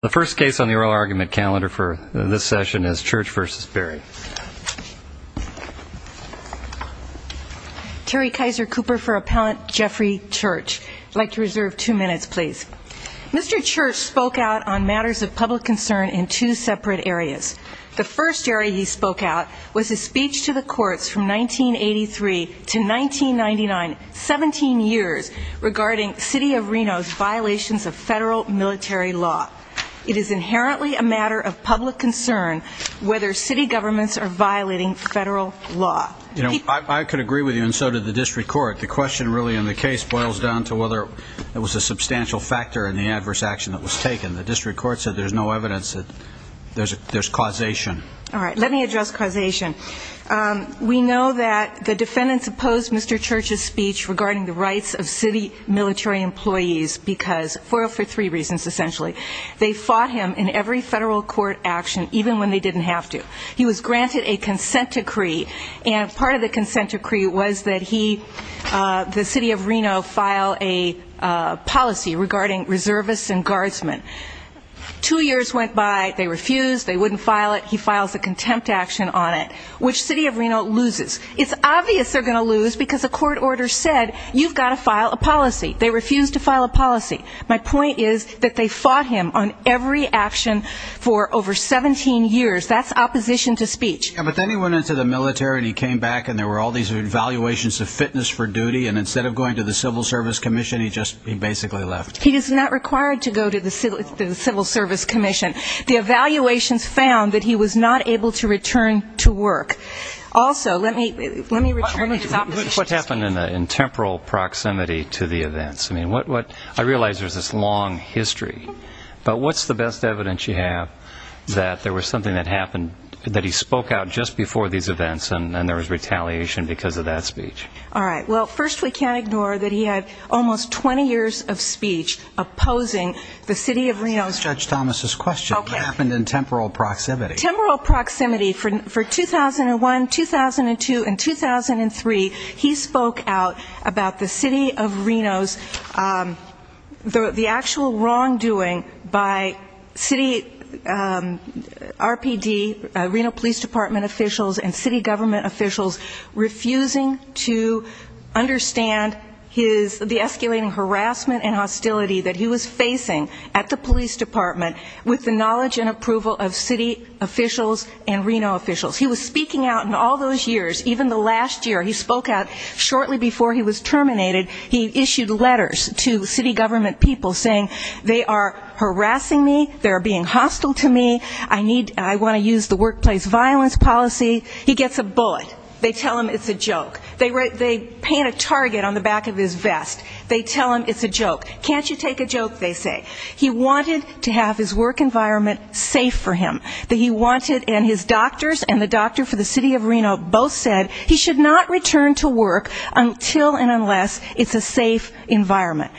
The first case on the oral argument calendar for this session is Church v. Berry. Terry Kaiser Cooper for Appellant Jeffrey Church. I'd like to reserve two minutes, please. Mr. Church spoke out on matters of public concern in two separate areas. The first area he spoke out was his speech to the courts from 1983 to 1999, 17 years, regarding City of Reno's violations of federal military law. It is inherently a matter of public concern whether city governments are violating federal law. I could agree with you, and so did the district court. The question really in the case boils down to whether it was a substantial factor in the adverse action that was taken. The district court said there's no evidence that there's causation. All right, let me address causation. We know that the defendants opposed Mr. Church's speech regarding the rights of city military employees, for three reasons, essentially. They fought him in every federal court action, even when they didn't have to. He was granted a consent decree, and part of the consent decree was that he, the City of Reno, file a policy regarding reservists and guardsmen. Two years went by. They refused. They wouldn't file it. He files a contempt action on it, which City of Reno loses. It's obvious they're going to lose, because a court order said you've got to file a policy. They refused to file a policy. My point is that they fought him on every action for over 17 years. That's opposition to speech. But then he went into the military, and he came back, and there were all these evaluations of fitness for duty, and instead of going to the Civil Service Commission, he just basically left. He is not required to go to the Civil Service Commission. The evaluations found that he was not able to return to work. Also, let me return to his opposition to speech. What happened in temporal proximity to the events? I realize there's this long history, but what's the best evidence you have that there was something that happened, that he spoke out just before these events, and there was retaliation because of that speech? All right. Well, first, we can't ignore that he had almost 20 years of speech opposing the City of Reno. That's not Judge Thomas' question. Okay. What happened in temporal proximity? Temporal proximity. For 2001, 2002, and 2003, he spoke out about the City of Reno's actual wrongdoing by city RPD, Reno Police Department officials and city government officials, refusing to understand the escalating harassment and hostility that he was facing at the police department with the knowledge and approval of city officials and Reno officials. He was speaking out in all those years, even the last year. He spoke out shortly before he was terminated. He issued letters to city government people saying, they are harassing me, they are being hostile to me, I want to use the workplace violence policy. He gets a bullet. They tell him it's a joke. They paint a target on the back of his vest. They tell him it's a joke. Can't you take a joke, they say. He wanted to have his work environment safe for him. He wanted, and his doctors and the doctor for the City of Reno both said, he should not return to work until and unless it's a safe environment.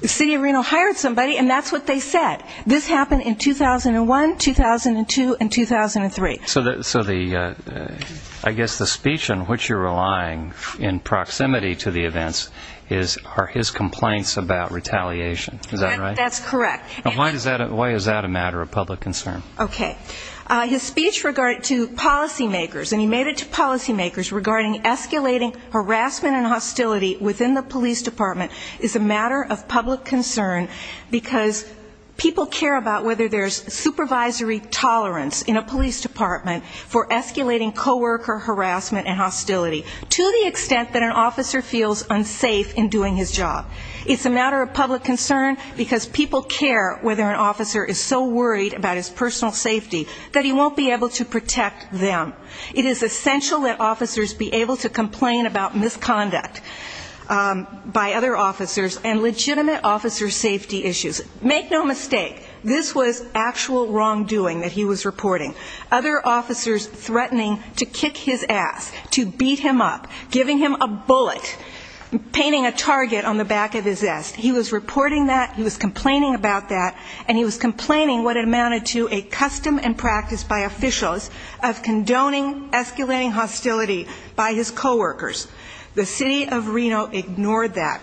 The City of Reno hired somebody, and that's what they said. This happened in 2001, 2002, and 2003. So I guess the speech in which you're relying in proximity to the events are his complaints about retaliation. Is that right? That's correct. Why is that a matter of public concern? Okay. His speech to policy makers, and he made it to policy makers, regarding escalating harassment and hostility within the police department is a matter of public concern, because people care about whether there's supervisory tolerance in a police department for escalating coworker harassment and hostility, to the extent that an officer feels unsafe in doing his job. It's a matter of public concern, because people care whether an officer is so worried about his personal safety that he won't be able to protect them. It is essential that officers be able to complain about misconduct by other officers, and legitimate officer safety issues. Make no mistake, this was actual wrongdoing that he was reporting. Other officers threatening to kick his ass, to beat him up, giving him a bullet, painting a target on the back of his ass. He was reporting that, he was complaining about that, and he was complaining what amounted to a custom and practice by officials of condoning escalating hostility by his coworkers. The city of Reno ignored that.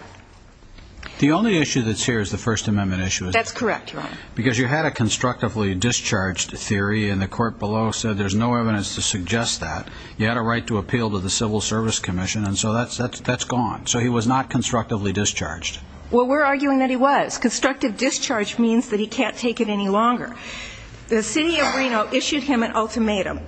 The only issue that's here is the First Amendment issue. That's correct, Your Honor. Because you had a constructively discharged theory, and the court below said there's no evidence to suggest that. You had a right to appeal to the Civil Service Commission, and so that's gone. So he was not constructively discharged. Well, we're arguing that he was. Constructive discharge means that he can't take it any longer. The city of Reno issued him an ultimatum.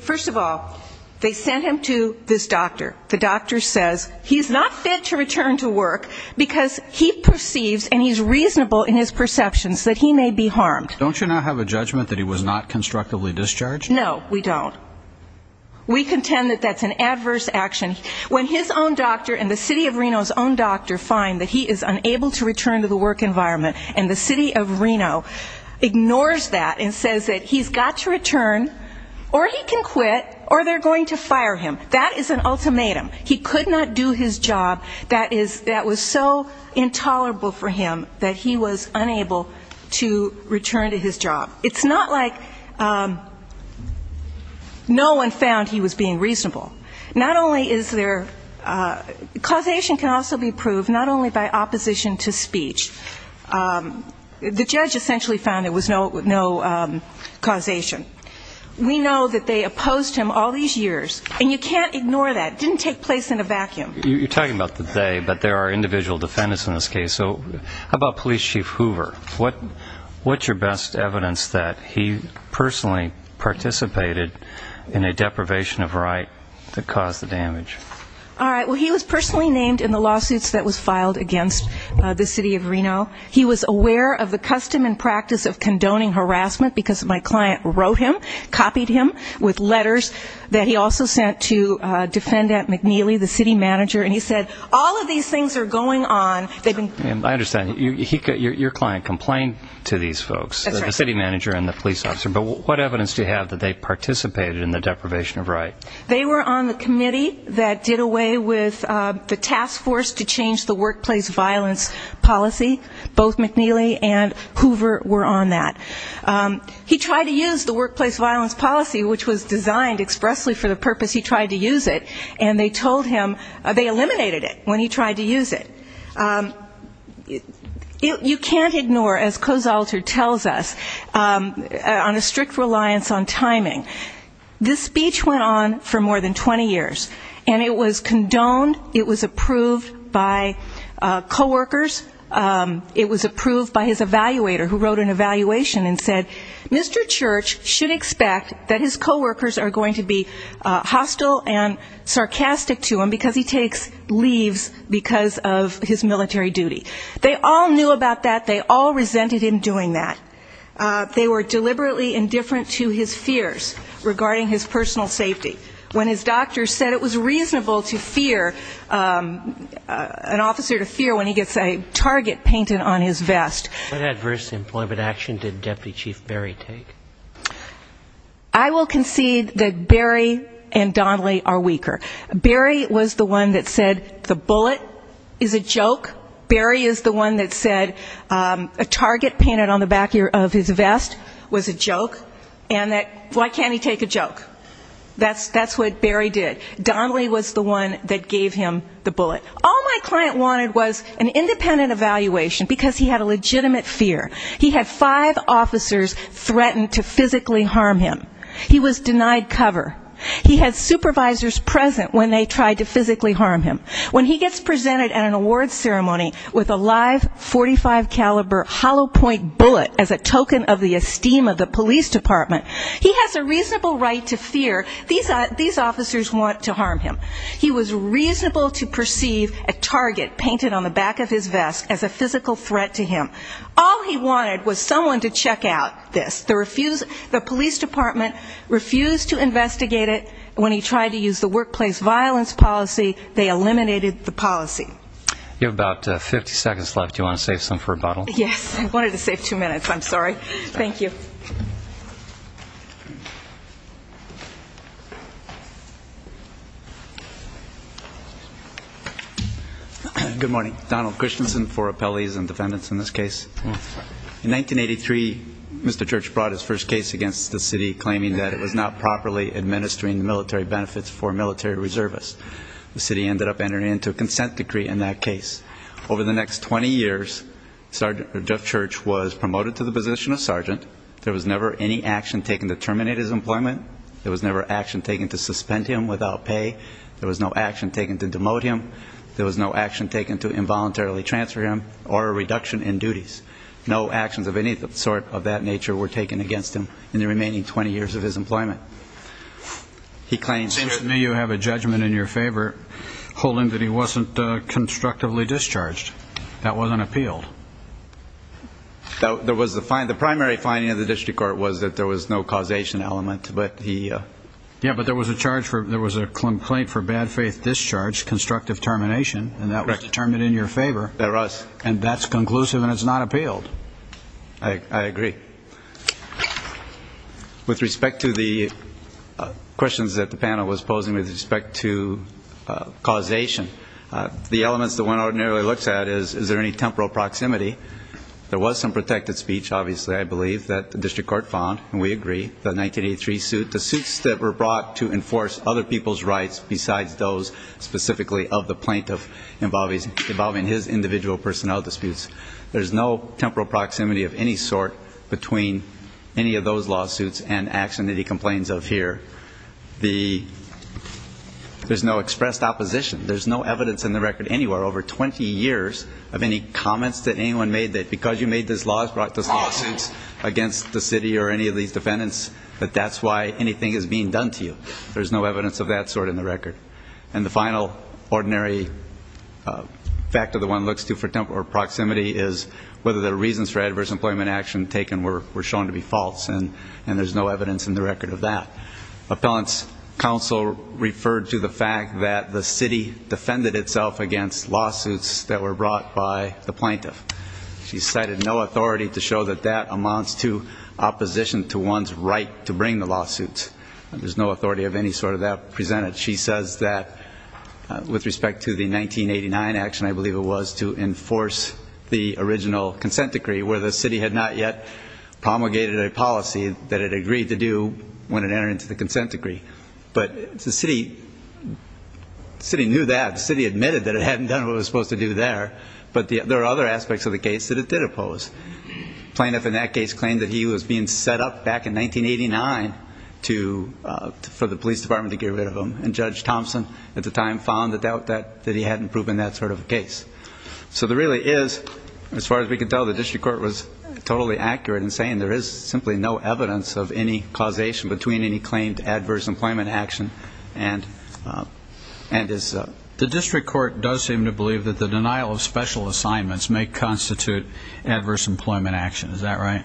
First of all, they sent him to this doctor. The doctor says he's not fit to return to work because he perceives, and he's reasonable in his perceptions, that he may be harmed. Don't you now have a judgment that he was not constructively discharged? No, we don't. We contend that that's an adverse action. When his own doctor and the city of Reno's own doctor find that he is unable to return to the work environment, and the city of Reno ignores that and says that he's got to return, or he can quit, or they're going to fire him, that is an ultimatum. He could not do his job that was so intolerable for him that he was unable to return to his job. It's not like no one found he was being reasonable. Causation can also be proved not only by opposition to speech. The judge essentially found there was no causation. We know that they opposed him all these years, and you can't ignore that. It didn't take place in a vacuum. You're talking about the they, but there are individual defendants in this case. So how about Police Chief Hoover? What's your best evidence that he personally participated in a deprivation of right to cause the damage? All right, well, he was personally named in the lawsuits that was filed against the city of Reno. He was aware of the custom and practice of condoning harassment because my client wrote him, copied him with letters that he also sent to Defendant McNeely, the city manager, and he said, all of these things are going on. I understand, your client complained to these folks, the city manager and the police officer, but what evidence do you have that they participated in the deprivation of right? They were on the committee that did away with the task force to change the workplace violence policy. Both McNeely and Hoover were on that. He tried to use the workplace violence policy, which was designed expressly for the purpose he tried to use it, and they told him they eliminated it when he tried to use it. You can't ignore, as Kozolter tells us, on a strict reliance on timing. This speech went on for more than 20 years, and it was condoned, it was approved by coworkers, it was approved by his evaluator who wrote an evaluation and said, Mr. Church should expect that his coworkers are going to be hostile and sarcastic to him because he takes leaves because of his military duty. They all knew about that, they all resented him doing that. They were deliberately indifferent to his fears regarding his personal safety. When his doctor said it was reasonable to fear, an officer to fear when he gets a target painted on his vest. What adverse employment action did Deputy Chief Berry take? I will concede that Berry and Donnelly are weaker. Berry was the one that said the bullet is a joke. Berry is the one that said a target painted on the back of his vest was a joke, and why can't he take a joke? That's what Berry did. All my client wanted was an independent evaluation because he had a legitimate fear. He had five officers threatened to physically harm him. He was denied cover. He had supervisors present when they tried to physically harm him. When he gets presented at an awards ceremony with a live .45 caliber hollow point bullet as a token of the esteem of the police department, he has a reasonable right to fear these officers want to harm him. He was reasonable to perceive a target painted on the back of his vest as a physical threat to him. All he wanted was someone to check out this. The police department refused to investigate it. When he tried to use the workplace violence policy, they eliminated the policy. You have about 50 seconds left. Do you want to save some for a bottle? Yes. I wanted to save two minutes. I'm sorry. Thank you. Good morning. Donald Christensen for appellees and defendants in this case. In 1983, Mr. Church brought his first case against the city, claiming that it was not properly administering military benefits for military reservists. The city ended up entering into a consent decree in that case. Over the next 20 years, Sergeant Jeff Church was promoted to the position of sergeant. There was never any action taken to terminate his employment. There was never action taken to suspend him without pay. There was no action taken to demote him. There was no action taken to involuntarily transfer him or a reduction in duties. No actions of any sort of that nature were taken against him in the remaining 20 years of his employment. It seems to me you have a judgment in your favor, holding that he wasn't constructively discharged. That wasn't appealed. The primary finding of the district court was that there was no causation element. Yeah, but there was a complaint for bad faith discharge, constructive termination, and that was determined in your favor. That was. And that's conclusive and it's not appealed. I agree. With respect to the questions that the panel was posing with respect to causation, the elements that one ordinarily looks at is, is there any temporal proximity? There was some protected speech, obviously, I believe, that the district court found, and we agree, the 1983 suit, the suits that were brought to enforce other people's rights besides those specifically of the plaintiff involving his individual personnel disputes. There's no temporal proximity of any sort between any of those lawsuits and action that he complains of here. There's no expressed opposition. There's no evidence in the record anywhere over 20 years of any comments that anyone made that because you made those lawsuits against the city or any of these defendants that that's why anything is being done to you. There's no evidence of that sort in the record. And the final ordinary factor that one looks to for temporal proximity is whether the reasons for adverse employment action taken were shown to be false, and there's no evidence in the record of that. Appellant's counsel referred to the fact that the city defended itself against lawsuits that were brought by the plaintiff. She cited no authority to show that that amounts to opposition to one's right to bring the lawsuits. There's no authority of any sort of that presented. She says that with respect to the 1989 action, I believe it was, to enforce the original consent decree where the city had not yet promulgated a policy that it agreed to do when it entered into the consent decree. But the city knew that. The city admitted that it hadn't done what it was supposed to do there. But there are other aspects of the case that it did oppose. The plaintiff in that case claimed that he was being set up back in 1989 for the police department to get rid of him, and Judge Thompson at the time found the doubt that he hadn't proven that sort of a case. So there really is, as far as we can tell, the district court was totally accurate in saying there is simply no evidence of any causation between any claimed adverse employment action and his. The district court does seem to believe that the denial of special assignments may constitute adverse employment action. Is that right?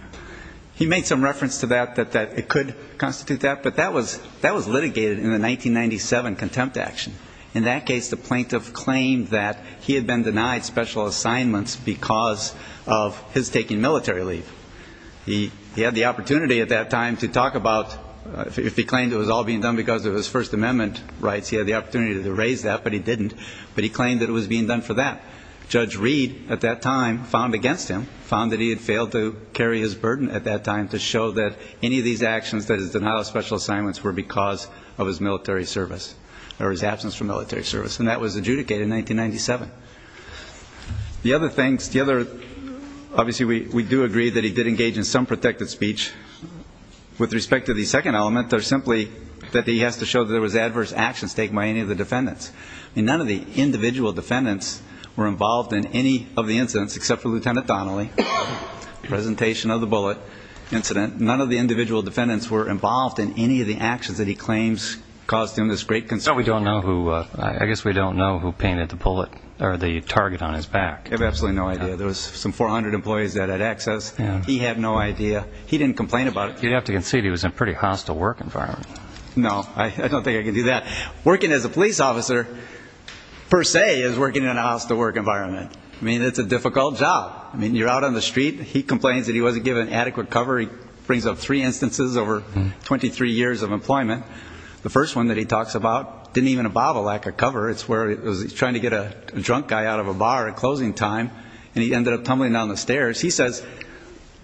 He made some reference to that, that it could constitute that, but that was litigated in the 1997 contempt action. In that case, the plaintiff claimed that he had been denied special assignments because of his taking military leave. He had the opportunity at that time to talk about, if he claimed it was all being done because of his First Amendment rights, he had the opportunity to raise that, but he didn't. But he claimed that it was being done for that. Judge Reed at that time found against him, found that he had failed to carry his burden at that time to show that any of these actions that is denial of special assignments were because of his military service or his absence from military service, and that was adjudicated in 1997. The other things, obviously we do agree that he did engage in some protected speech. With respect to the second element, they're simply that he has to show that there was adverse actions taken by any of the defendants. None of the individual defendants were involved in any of the incidents, except for Lieutenant Donnelly, presentation of the bullet incident. None of the individual defendants were involved in any of the actions that he claims caused him this great concern. I guess we don't know who painted the bullet or the target on his back. I have absolutely no idea. There was some 400 employees that had access. He had no idea. He didn't complain about it. You have to concede he was in a pretty hostile work environment. No, I don't think I can do that. Working as a police officer, per se, is working in a hostile work environment. I mean, it's a difficult job. I mean, you're out on the street. He complains that he wasn't given adequate cover. He brings up three instances over 23 years of employment. The first one that he talks about didn't even involve a lack of cover. It's where he was trying to get a drunk guy out of a bar at closing time, and he ended up tumbling down the stairs. He says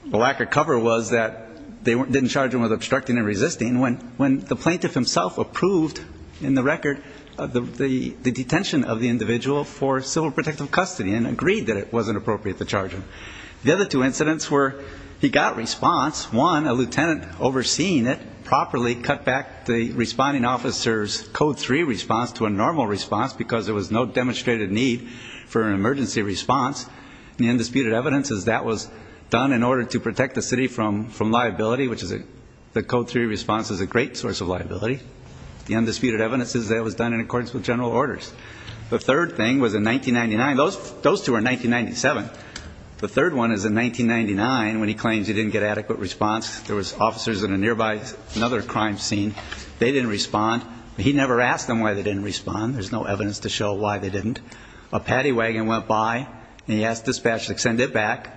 the lack of cover was that they didn't charge him with obstructing and resisting. When the plaintiff himself approved, in the record, the detention of the individual for civil protective custody and agreed that it wasn't appropriate to charge him. The other two incidents were he got response. One, a lieutenant overseeing it properly cut back the responding officer's Code 3 response to a normal response because there was no demonstrated need for an emergency response. The undisputed evidence is that was done in order to protect the city from liability, which the Code 3 response is a great source of liability. The undisputed evidence is that it was done in accordance with general orders. The third thing was in 1999. Those two are 1997. The third one is in 1999 when he claims he didn't get adequate response. There was officers in a nearby another crime scene. They didn't respond. He never asked them why they didn't respond. There's no evidence to show why they didn't. A paddy wagon went by, and he asked dispatch to send it back.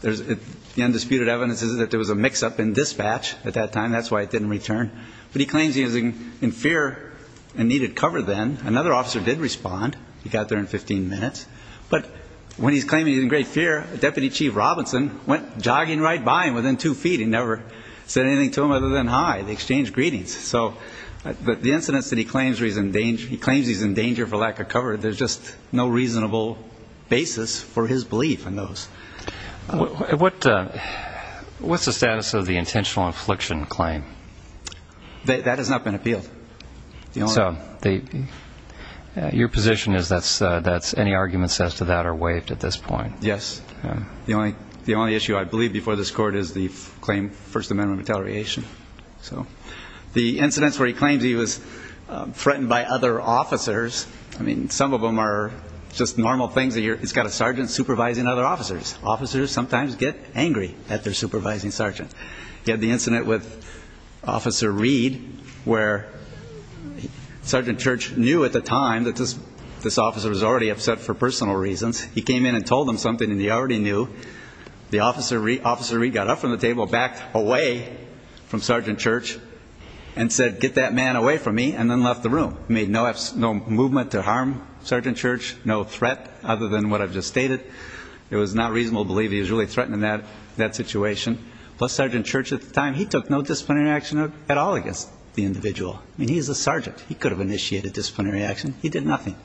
The undisputed evidence is that there was a mix-up in dispatch at that time. That's why it didn't return. But he claims he was in fear and needed cover then. Another officer did respond. He got there in 15 minutes. But when he's claiming he's in great fear, Deputy Chief Robinson went jogging right by him within two feet. He never said anything to him other than hi. They exchanged greetings. So the incidents that he claims he's in danger for lack of cover, there's just no reasonable basis for his belief in those. What's the status of the intentional infliction claim? That has not been appealed. So your position is that any arguments as to that are waived at this point? Yes. The only issue I believe before this Court is the claim first amendment retaliation. So the incidents where he claims he was threatened by other officers, I mean, some of them are just normal things. He's got a sergeant supervising other officers. Officers sometimes get angry at their supervising sergeant. He had the incident with Officer Reed where Sergeant Church knew at the time that this officer was already upset for personal reasons. He came in and told him something, and he already knew. Officer Reed got up from the table, backed away from Sergeant Church, made no movement to harm Sergeant Church, no threat other than what I've just stated. It was not reasonable to believe he was really threatening that situation. Plus Sergeant Church at the time, he took no disciplinary action at all against the individual. I mean, he's a sergeant. He could have initiated disciplinary action. He did nothing.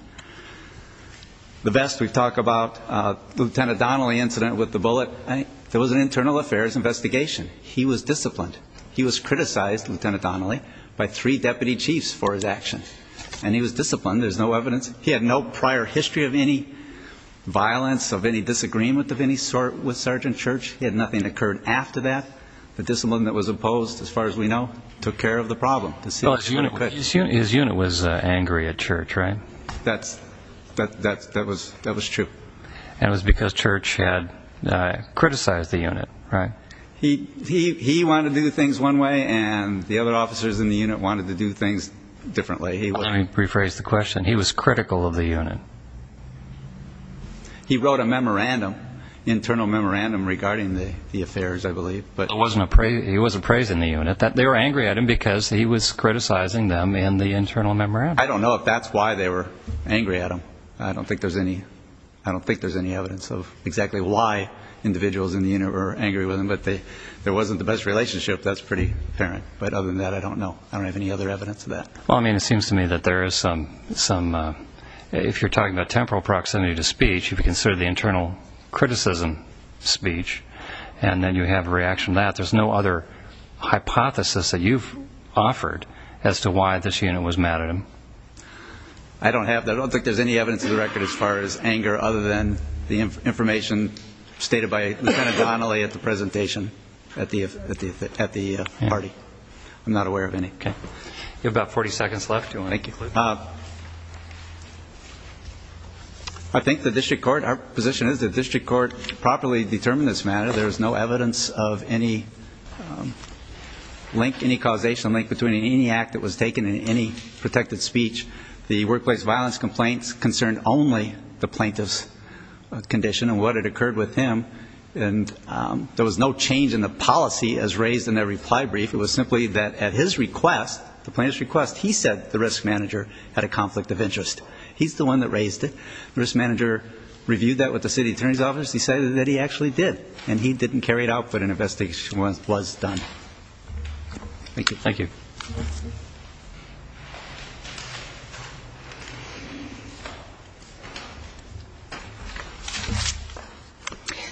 The best we've talked about, Lieutenant Donnelly incident with the bullet. There was an internal affairs investigation. He was disciplined. He was criticized, Lieutenant Donnelly, by three deputy chiefs for his actions. And he was disciplined. There's no evidence. He had no prior history of any violence, of any disagreement of any sort with Sergeant Church. He had nothing that occurred after that. The discipline that was imposed, as far as we know, took care of the problem. His unit was angry at Church, right? That was true. And it was because Church had criticized the unit, right? He wanted to do things one way, and the other officers in the unit wanted to do things differently. Let me rephrase the question. He was critical of the unit. He wrote a memorandum, internal memorandum, regarding the affairs, I believe. There was a praise in the unit that they were angry at him because he was criticizing them in the internal memorandum. I don't know if that's why they were angry at him. I don't think there's any evidence of exactly why individuals in the unit were angry with him. But there wasn't the best relationship. That's pretty apparent. But other than that, I don't know. I don't have any other evidence of that. Well, I mean, it seems to me that there is some, if you're talking about temporal proximity to speech, if you consider the internal criticism speech, and then you have a reaction to that, there's no other hypothesis that you've offered as to why this unit was mad at him. I don't have that. I don't think there's any evidence of the record as far as anger, other than the information stated by Lieutenant Donnelly at the presentation at the party. I'm not aware of any. Okay. You have about 40 seconds left. Thank you. I think the district court, our position is the district court properly determined this matter. There's no evidence of any link, any causational link between any act that was taken and any protected speech. The workplace violence complaints concerned only the plaintiff's condition and what had occurred with him. And there was no change in the policy as raised in their reply brief. It was simply that at his request, the plaintiff's request, he said the risk manager had a conflict of interest. He's the one that raised it. The risk manager reviewed that with the city attorney's office. He said that he actually did, and he didn't carry it out, but an investigation was done. Thank you.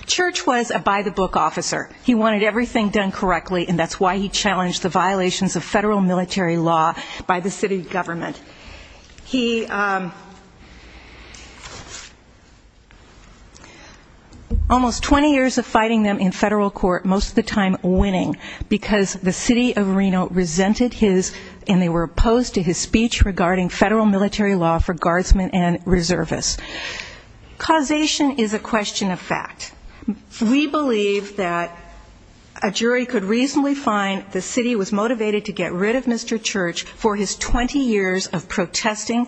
Church was a by-the-book officer. He wanted everything done correctly, and that's why he challenged the violations of federal military law by the city government. He almost 20 years of fighting them in federal court, most of the time winning, because the city of Reno resented his, and they were opposed to his speech regarding federal military law for guardsmen and reservists. Causation is a question of fact. We believe that a jury could reasonably find the city was motivated to get rid of Mr. Church for his 20 years of protesting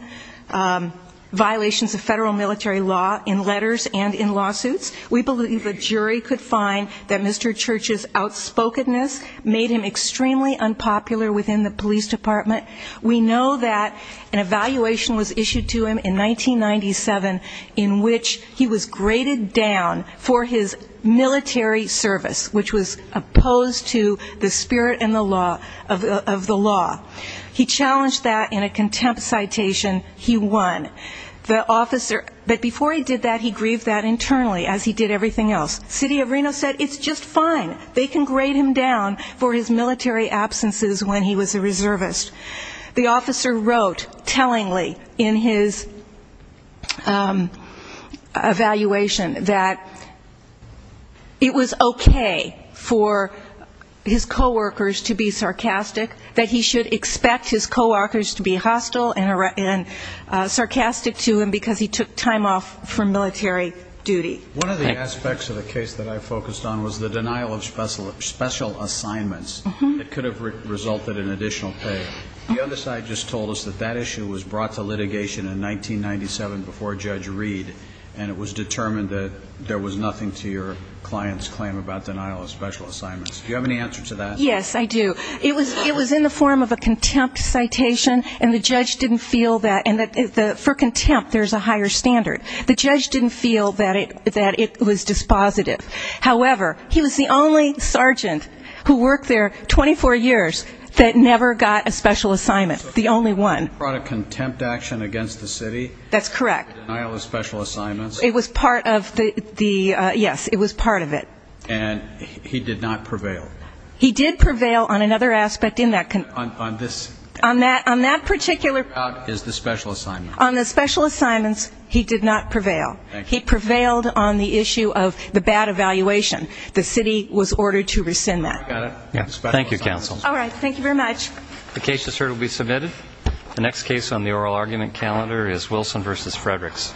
violations of federal military law in letters and in lawsuits. We believe a jury could find that Mr. Church's outspokenness made him extremely unpopular within the police department. We know that an evaluation was issued to him in 1997 in which he was graded down for his military service, which was opposed to the spirit of the law. He challenged that in a contempt citation. He won. But before he did that, he grieved that internally, as he did everything else. City of Reno said it's just fine, they can grade him down for his military absences when he was a reservist. The officer wrote tellingly in his evaluation that it was okay for his coworkers to be sarcastic, that he should expect his coworkers to be hostile and sarcastic to him because he took time off from military duty. One of the aspects of the case that I focused on was the denial of special assignments that could have resulted in additional pay. The other side just told us that that issue was brought to litigation in 1997 before Judge Reed, and it was determined that there was nothing to your client's claim about denial of special assignments. Do you have any answer to that? Yes, I do. It was in the form of a contempt citation, and the judge didn't feel that, and for contempt there's a higher standard. The judge didn't feel that it was dispositive. However, he was the only sergeant who worked there 24 years that never got a special assignment, the only one. So he brought a contempt action against the city? That's correct. Denial of special assignments? It was part of the, yes, it was part of it. And he did not prevail? He did prevail on another aspect in that. On this? On that particular. How about is the special assignment? On the special assignments, he did not prevail. He prevailed on the issue of the bad evaluation. The city was ordered to rescind that. Thank you, counsel. The case is heard and will be submitted. The next case on the oral argument calendar is Wilson v. Fredericks.